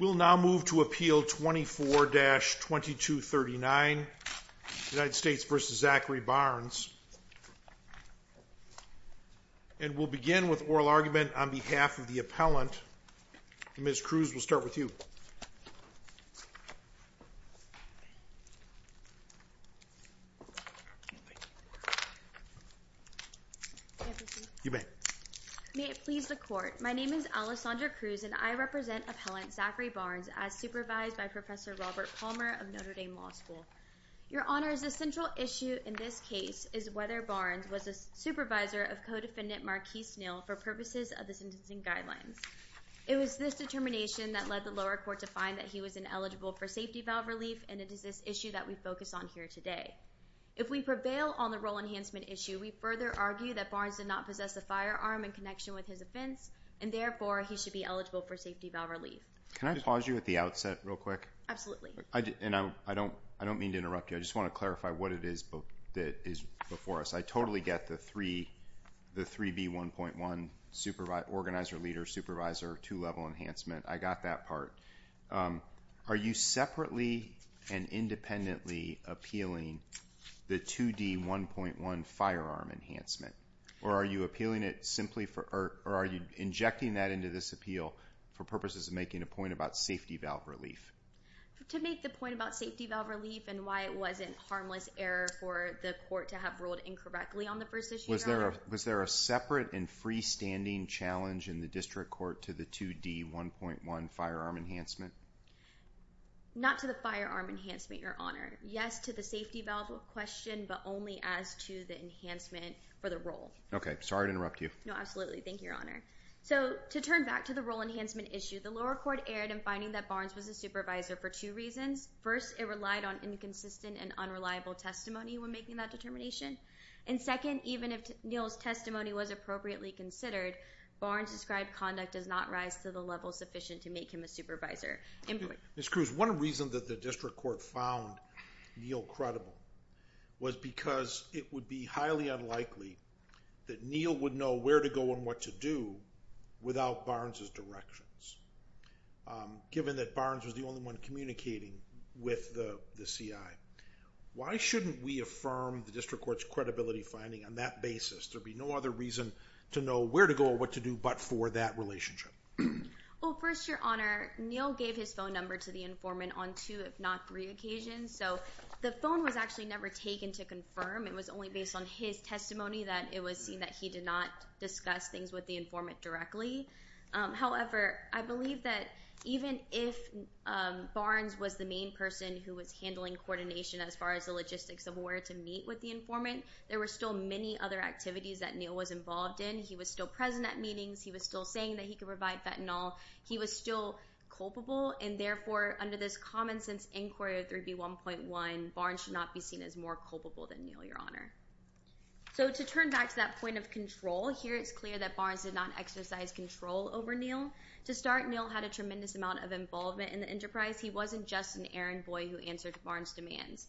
We'll now move to Appeal 24-2239, United States v. Zachary Barnes, and we'll begin with oral argument on behalf of the appellant. Ms. Cruz, we'll start with you. May it please the Court, my name is Alessandra Cruz and I represent Appellant Zachary Barnes as supervised by Professor Robert Palmer of Notre Dame Law School. Your Honor, the central issue in this case is whether Barnes was a supervisor of Codefendant Marquis Neal for purposes of the sentencing guidelines. It was this determination that led the lower court to find that he was ineligible for safety valve relief, and it is this issue that we focus on here today. If we prevail on the role enhancement issue, we further argue that Barnes did not possess a firearm in connection with his offense, and therefore, he should be eligible for safety valve relief. Mr. Palmer Can I pause you at the outset real quick? Ms. Cruz Absolutely. Mr. Palmer And I don't mean to interrupt you, I just want to clarify what it is that is before us. I totally get the 3B1.1, organizer, leader, supervisor, two-level enhancement. I got that part. Are you separately and independently appealing the 2D1.1 firearm enhancement, or are you appealing it simply for, or are you injecting that into this appeal for purposes of making a point about safety valve relief? Ms. Cruz To make the point about safety valve relief and why it wasn't harmless error for the court to have ruled incorrectly on the first issue, Mr. Palmer Was there a separate and freestanding challenge in the district court to the 2D1.1 firearm enhancement? Ms. Cruz Not to the firearm enhancement, Your Honor. Yes, to the safety valve question, but only as to the enhancement for the role. Mr. Palmer Okay. Sorry to interrupt you. Ms. Cruz No, absolutely. Thank you, Your Honor. So, to turn back to the role enhancement issue, the lower court erred in finding that Barnes was a supervisor for two reasons. First, it relied on inconsistent and unreliable testimony when making that determination. And second, even if Neal's testimony was appropriately considered, Barnes' described conduct does not rise to the level sufficient to make him a supervisor. Mr. Palmer Ms. Cruz, one reason that the district court found Neal credible was because it would be highly unlikely that Neal would know where to go and what to do without Barnes' directions, given that Barnes was the only one communicating with the CI. Why shouldn't we affirm the district court's credibility finding on that basis? There'd be no other reason to know where to go or what to do but for that relationship. Ms. Cruz Well, first, Your Honor, Neal gave his phone number to the informant on two, if not three, occasions. So, the phone was actually never taken to confirm. It was only based on his testimony that it was seen that he did not discuss things with the informant directly. However, I believe that even if Barnes was the main person who was handling coordination as far as the logistics of where to meet with the informant, there were still many other activities that Neal was involved in. He was still present at meetings. He was still saying that he could provide fentanyl. He was still culpable and therefore, under this common sense inquiry of 3B1.1, Barnes should not be seen as more culpable than Neal, Your Honor. So, to turn back to that point of control, here it's clear that Barnes did not exercise control over Neal. To start, Neal had a tremendous amount of involvement in the enterprise. He wasn't just an errand boy who answered Barnes' demands.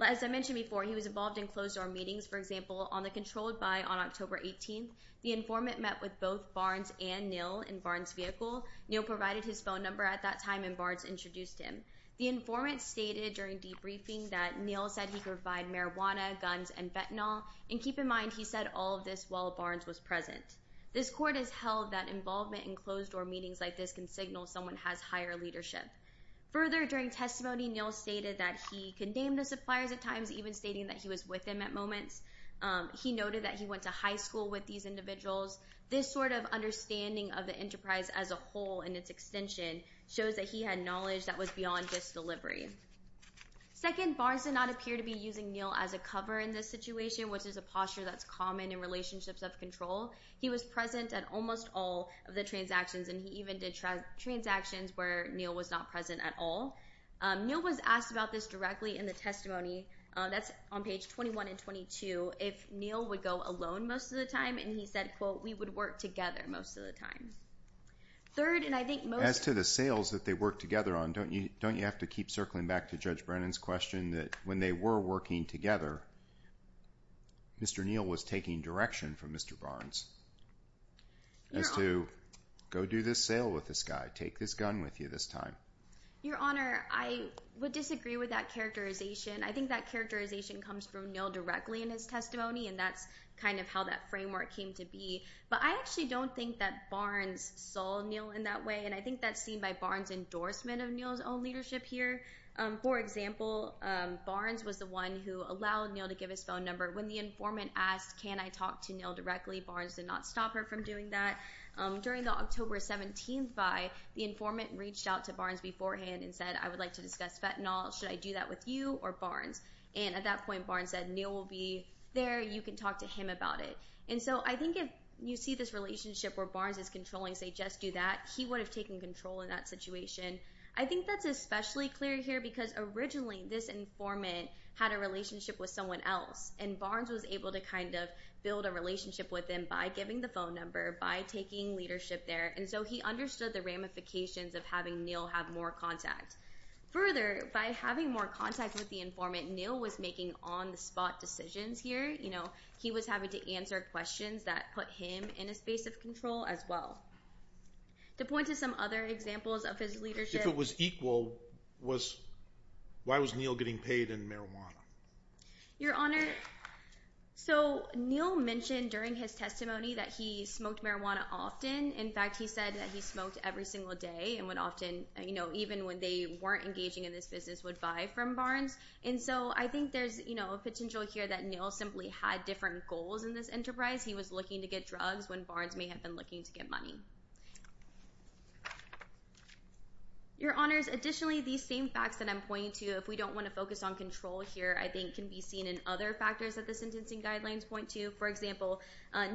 As I mentioned before, he was involved in closed-door meetings. For example, on the controlled by on October 18th, the informant met with both Barnes and Neal in Barnes' vehicle. Neal provided his phone number at that time and Barnes introduced him. The informant stated during debriefing that Neal said he could provide marijuana, guns, and fentanyl. And keep in mind, he said all of this while Barnes was present. This court has held that involvement in closed-door meetings like this can signal someone has higher leadership. Further, during testimony, Neal stated that he condemned the suppliers at times, even stating that he was with them at moments. He noted that he went to high school with these individuals. This sort of understanding of the enterprise as a whole and its extension shows that he had knowledge that was beyond just delivery. Second, Barnes did not appear to be using Neal as a cover in this situation, which is a posture that's common in relationships of control. He was present at almost all of the transactions, and he even did transactions where Neal was not present at all. Neal was asked about this directly in the testimony, that's on page 21 and 22, if Neal would go alone most of the time, and he said, quote, we would work together most of the time. Third, and I think most... As to the sales that they worked together on, don't you have to keep circling back to Judge Brennan's question that when they were working together, Mr. Neal was taking direction from Mr. Barnes as to, go do this sale with this guy, take this gun with you this time. Your Honor, I would disagree with that characterization. I think that characterization comes from Neal directly in his testimony, and that's kind of how that framework came to be. But I actually don't think that Barnes saw Neal in that way, and I think that's seen by Barnes' endorsement of Neal's own leadership here. For example, Barnes was the one who allowed Neal to give his phone number. When the informant asked, can I talk to Neal directly, Barnes did not stop her from doing that. During the October 17th fi, the informant reached out to Barnes beforehand and said, I would like to discuss fentanyl, should I do that with you or Barnes? And at that point, Barnes said, Neal will be there, you can talk to him about it. And so I think if you see this relationship where Barnes is controlling, say, just do that, he would have taken control in that situation. I think that's especially clear here because originally this informant had a relationship with someone else, and Barnes was able to kind of build a relationship with him by giving the phone number, by taking leadership there, and so he understood the ramifications of having Neal have more contact. Further, by having more contact with the informant, Neal was making on-the-spot decisions here. He was having to answer questions that put him in a space of control as well. To point to some other examples of his leadership... If it was equal, why was Neal getting paid in marijuana? Your Honor, so Neal mentioned during his testimony that he smoked marijuana often. In fact, he said that he smoked every single day and would often, even when they weren't engaging in this business, would buy from Barnes. And so I think there's a potential here that Neal simply had different goals in this enterprise. He was looking to get drugs when Barnes may have been looking to get money. Your Honors, additionally, these same facts that I'm pointing to, if we don't want to focus on control here, I think can be seen in other factors that the sentencing guidelines point to. For example,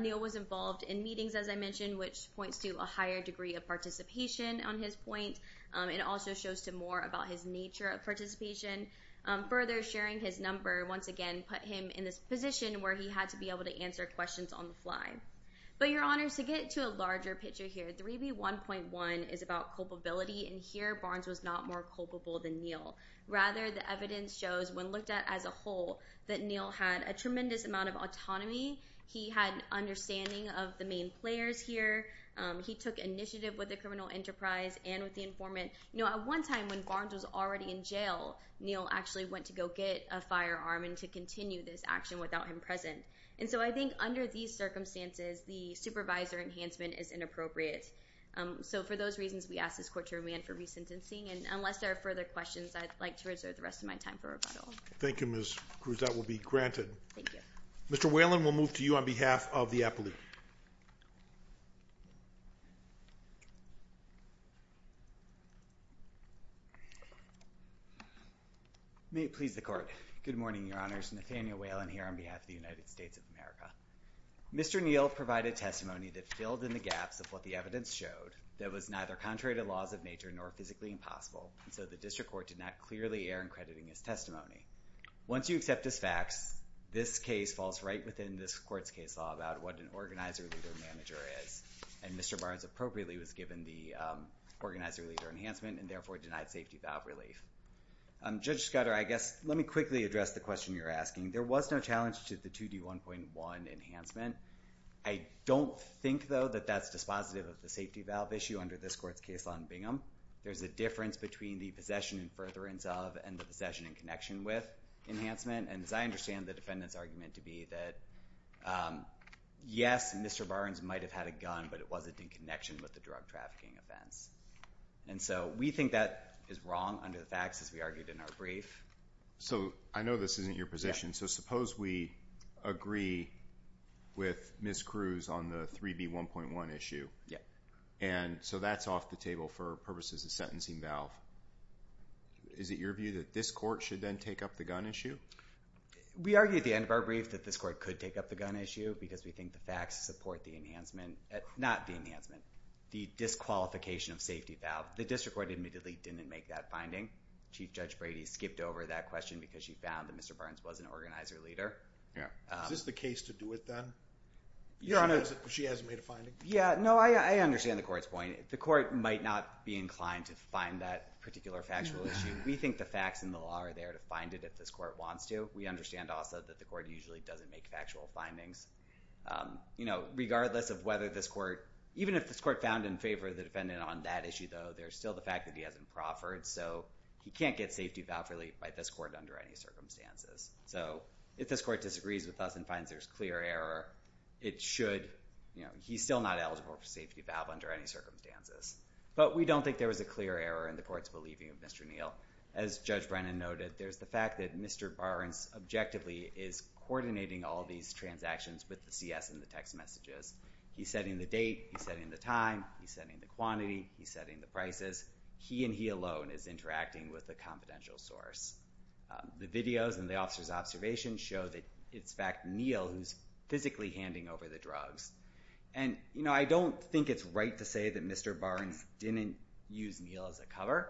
Neal was involved in meetings, as I mentioned, which points to a higher degree of participation on his point. It also shows to more about his nature of participation. Further, sharing his number once again put him in this position where he had to be able to answer questions on the fly. But Your Honors, to get to a larger picture here, 3B1.1 is about culpability. And here, Barnes was not more culpable than Neal. Rather, the evidence shows, when looked at as a whole, that Neal had a tremendous amount of autonomy. He had an understanding of the main players here. He took initiative with the criminal enterprise and with the informant. At one time, when Barnes was already in jail, Neal actually went to go get a firearm and to continue this action without him present. And so I think under these circumstances, the supervisor enhancement is inappropriate. So for those reasons, we ask this court to remand for resentencing. And unless there are further questions, I'd like to reserve the rest of my time for rebuttal. Thank you, Ms. Cruz. That will be granted. Thank you. Mr. Whalen, we'll move to you on behalf of the appellate. May it please the Court. Good morning, Your Honors. Nathaniel Whalen here on behalf of the United States of America. Mr. Neal provided testimony that filled in the gaps of what the evidence showed that was neither contrary to laws of nature nor physically impossible. And so the district court did not clearly err in crediting his testimony. Once you accept his facts, this case falls right within this court's case law about what an organizer-leader manager is. And Mr. Barnes appropriately was given the organizer-leader enhancement and therefore denied safety valve relief. Judge Scudder, I guess let me quickly address the question you're asking. There was no challenge to the 2D1.1 enhancement. I don't think, though, that that's dispositive of the safety valve issue under this court's case law in Bingham. There's a difference between the possession and furtherance of and the possession and with enhancement. And as I understand the defendant's argument to be that, yes, Mr. Barnes might have had a gun, but it wasn't in connection with the drug trafficking offense. And so we think that is wrong under the facts as we argued in our brief. So I know this isn't your position. So suppose we agree with Ms. Cruz on the 3B1.1 issue. Yeah. And so that's off the table for purposes of sentencing valve. Is it your view that this court should then take up the gun issue? We argue at the end of our brief that this court could take up the gun issue because we think the facts support the enhancement, not the enhancement, the disqualification of safety valve. The district court admittedly didn't make that finding. Chief Judge Brady skipped over that question because she found that Mr. Barnes was an organizer-leader. Yeah. Is this the case to do it then? Your Honor. She hasn't made a finding? Yeah. No, I understand the court's point. The court might not be inclined to find that particular factual issue. We think the facts and the law are there to find it if this court wants to. We understand also that the court usually doesn't make factual findings. Regardless of whether this court, even if this court found in favor of the defendant on that issue though, there's still the fact that he hasn't proffered. So he can't get safety valve relief by this court under any circumstances. So if this court disagrees with us and finds there's clear error, it should, he's still not eligible for safety valve under any circumstances. But we don't think there was a clear error in the court's believing of Mr. Neal. As Judge Brennan noted, there's the fact that Mr. Barnes objectively is coordinating all these transactions with the CS and the text messages. He's setting the date. He's setting the time. He's setting the quantity. He's setting the prices. He and he alone is interacting with a confidential source. The videos and the officer's observations show that it's in fact Neal who's physically handing over the drugs. And, you know, I don't think it's right to say that Mr. Barnes didn't use Neal as a cover.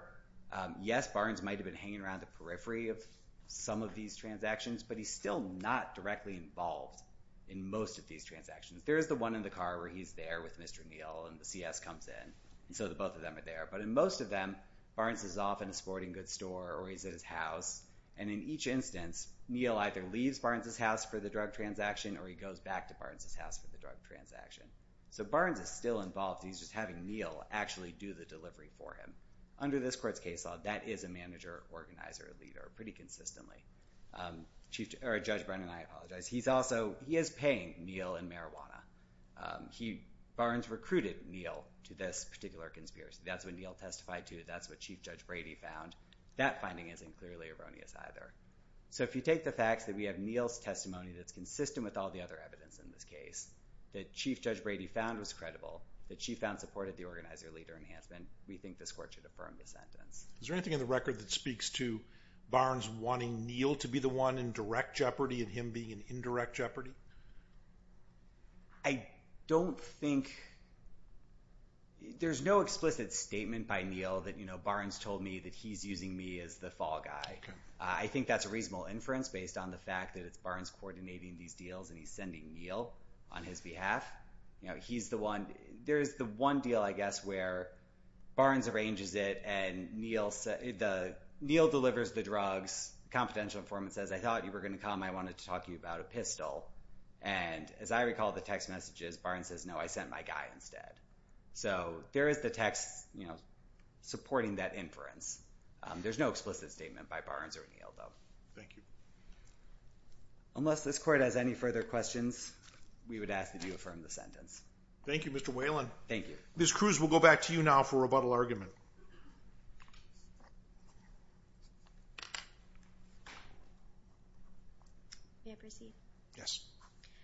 Yes, Barnes might have been hanging around the periphery of some of these transactions, but he's still not directly involved in most of these transactions. There's the one in the car where he's there with Mr. Neal and the CS comes in. So the both of them are there. But in most of them, Barnes is off in a sporting goods store or he's at his house. And in each instance, Neal either leaves Barnes' house for the drug transaction or he goes back to Barnes' house for the drug transaction. So Barnes is still involved. He's just having Neal actually do the delivery for him. Under this court's case law, that is a manager, organizer, leader pretty consistently. Judge Brennan, I apologize. He's also, he is paying Neal in marijuana. Barnes recruited Neal to this particular conspiracy. That's what Neal testified to. That's what Chief Judge Brady found. That finding isn't clearly erroneous either. So if you take the facts that we have Neal's testimony that's consistent with all the other evidence in this case, that Chief Judge Brady found was credible, that she found supported the organizer-leader enhancement, we think this court should affirm the sentence. Is there anything in the record that speaks to Barnes wanting Neal to be the one in direct jeopardy and him being in indirect jeopardy? I don't think, there's no explicit statement by Neal that, you know, Barnes told me that he's using me as the fall guy. I think that's a reasonable inference based on the fact that it's Barnes coordinating these deals and he's sending Neal on his behalf. You know, he's the one, there's the one deal I guess where Barnes arranges it and Neal said, Neal delivers the drugs, confidential informant says, I thought you were going to come. I wanted to talk to you about a pistol. And as I recall the text messages, Barnes says, no, I sent my guy instead. So there is the text, you know, supporting that inference. There's no explicit statement by Barnes or Neal though. Thank you. Unless this court has any further questions, we would ask that you affirm the sentence. Thank you, Mr. Whalen. Thank you. Ms. Cruz, we'll go back to you now for rebuttal argument. May I proceed? Yes.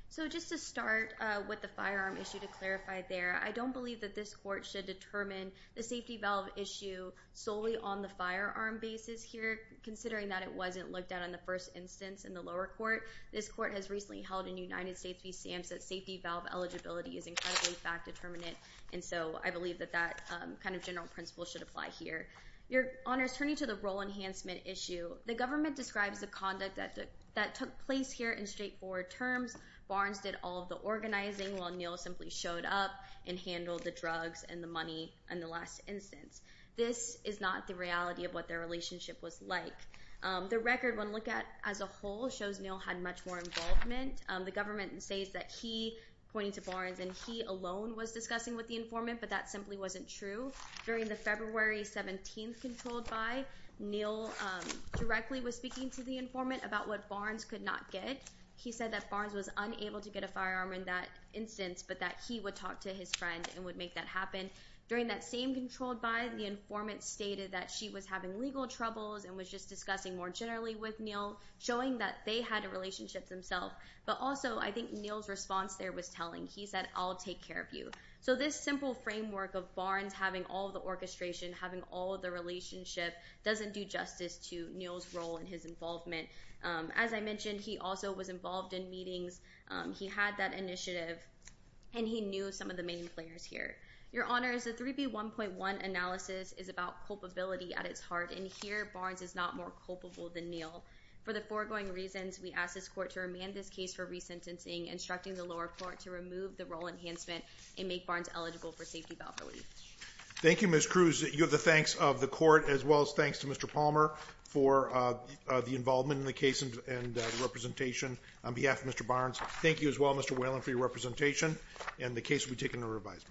So just to start with the firearm issue to clarify there, I don't believe that this court should determine the safety valve issue solely on the firearm basis here considering that it wasn't looked at in the first instance in the lower court. This court has recently held in United States v. SAMHSA safety valve eligibility is incredibly fact determinate and so I believe that that kind of general principle should apply here. Your Honors, turning to the role enhancement issue, the government describes the conduct that took place here in straightforward terms. Barnes did all of the organizing while Neal simply showed up and handled the drugs and the money in the last instance. This is not the reality of what their relationship was like. The record when looked at as a whole shows Neal had much more involvement. The government says that he, pointing to Barnes, and he alone was discussing with the informant but that simply wasn't true. During the February 17th controlled by, Neal directly was speaking to the informant about what Barnes could not get. He said that Barnes was unable to get a firearm in that instance but that he would talk to his friend and would make that happen. During that same controlled by, the informant stated that she was having legal troubles and was just discussing more generally with Neal showing that they had a relationship themselves but also I think Neal's response there was telling. He said, I'll take care of you. So this simple framework of Barnes having all the orchestration, having all the relationship doesn't do justice to Neal's role and his involvement. As I mentioned, he also was involved in meetings. He had that initiative and he knew some of the main players here. Your Honor, the 3B1.1 analysis is about culpability at its heart and here Barnes is not more culpable than Neal. For the foregoing reasons, we ask this court to remand this case for resentencing, instructing the lower court to remove the role enhancement and make Barnes eligible for safety valve relief. Thank you Ms. Cruz. You have the thanks of the court as well as thanks to Mr. Palmer for the involvement in the case and the representation on behalf of Mr. Barnes. Thank you as well Mr. Whalen for your representation and the case will be taken into revision.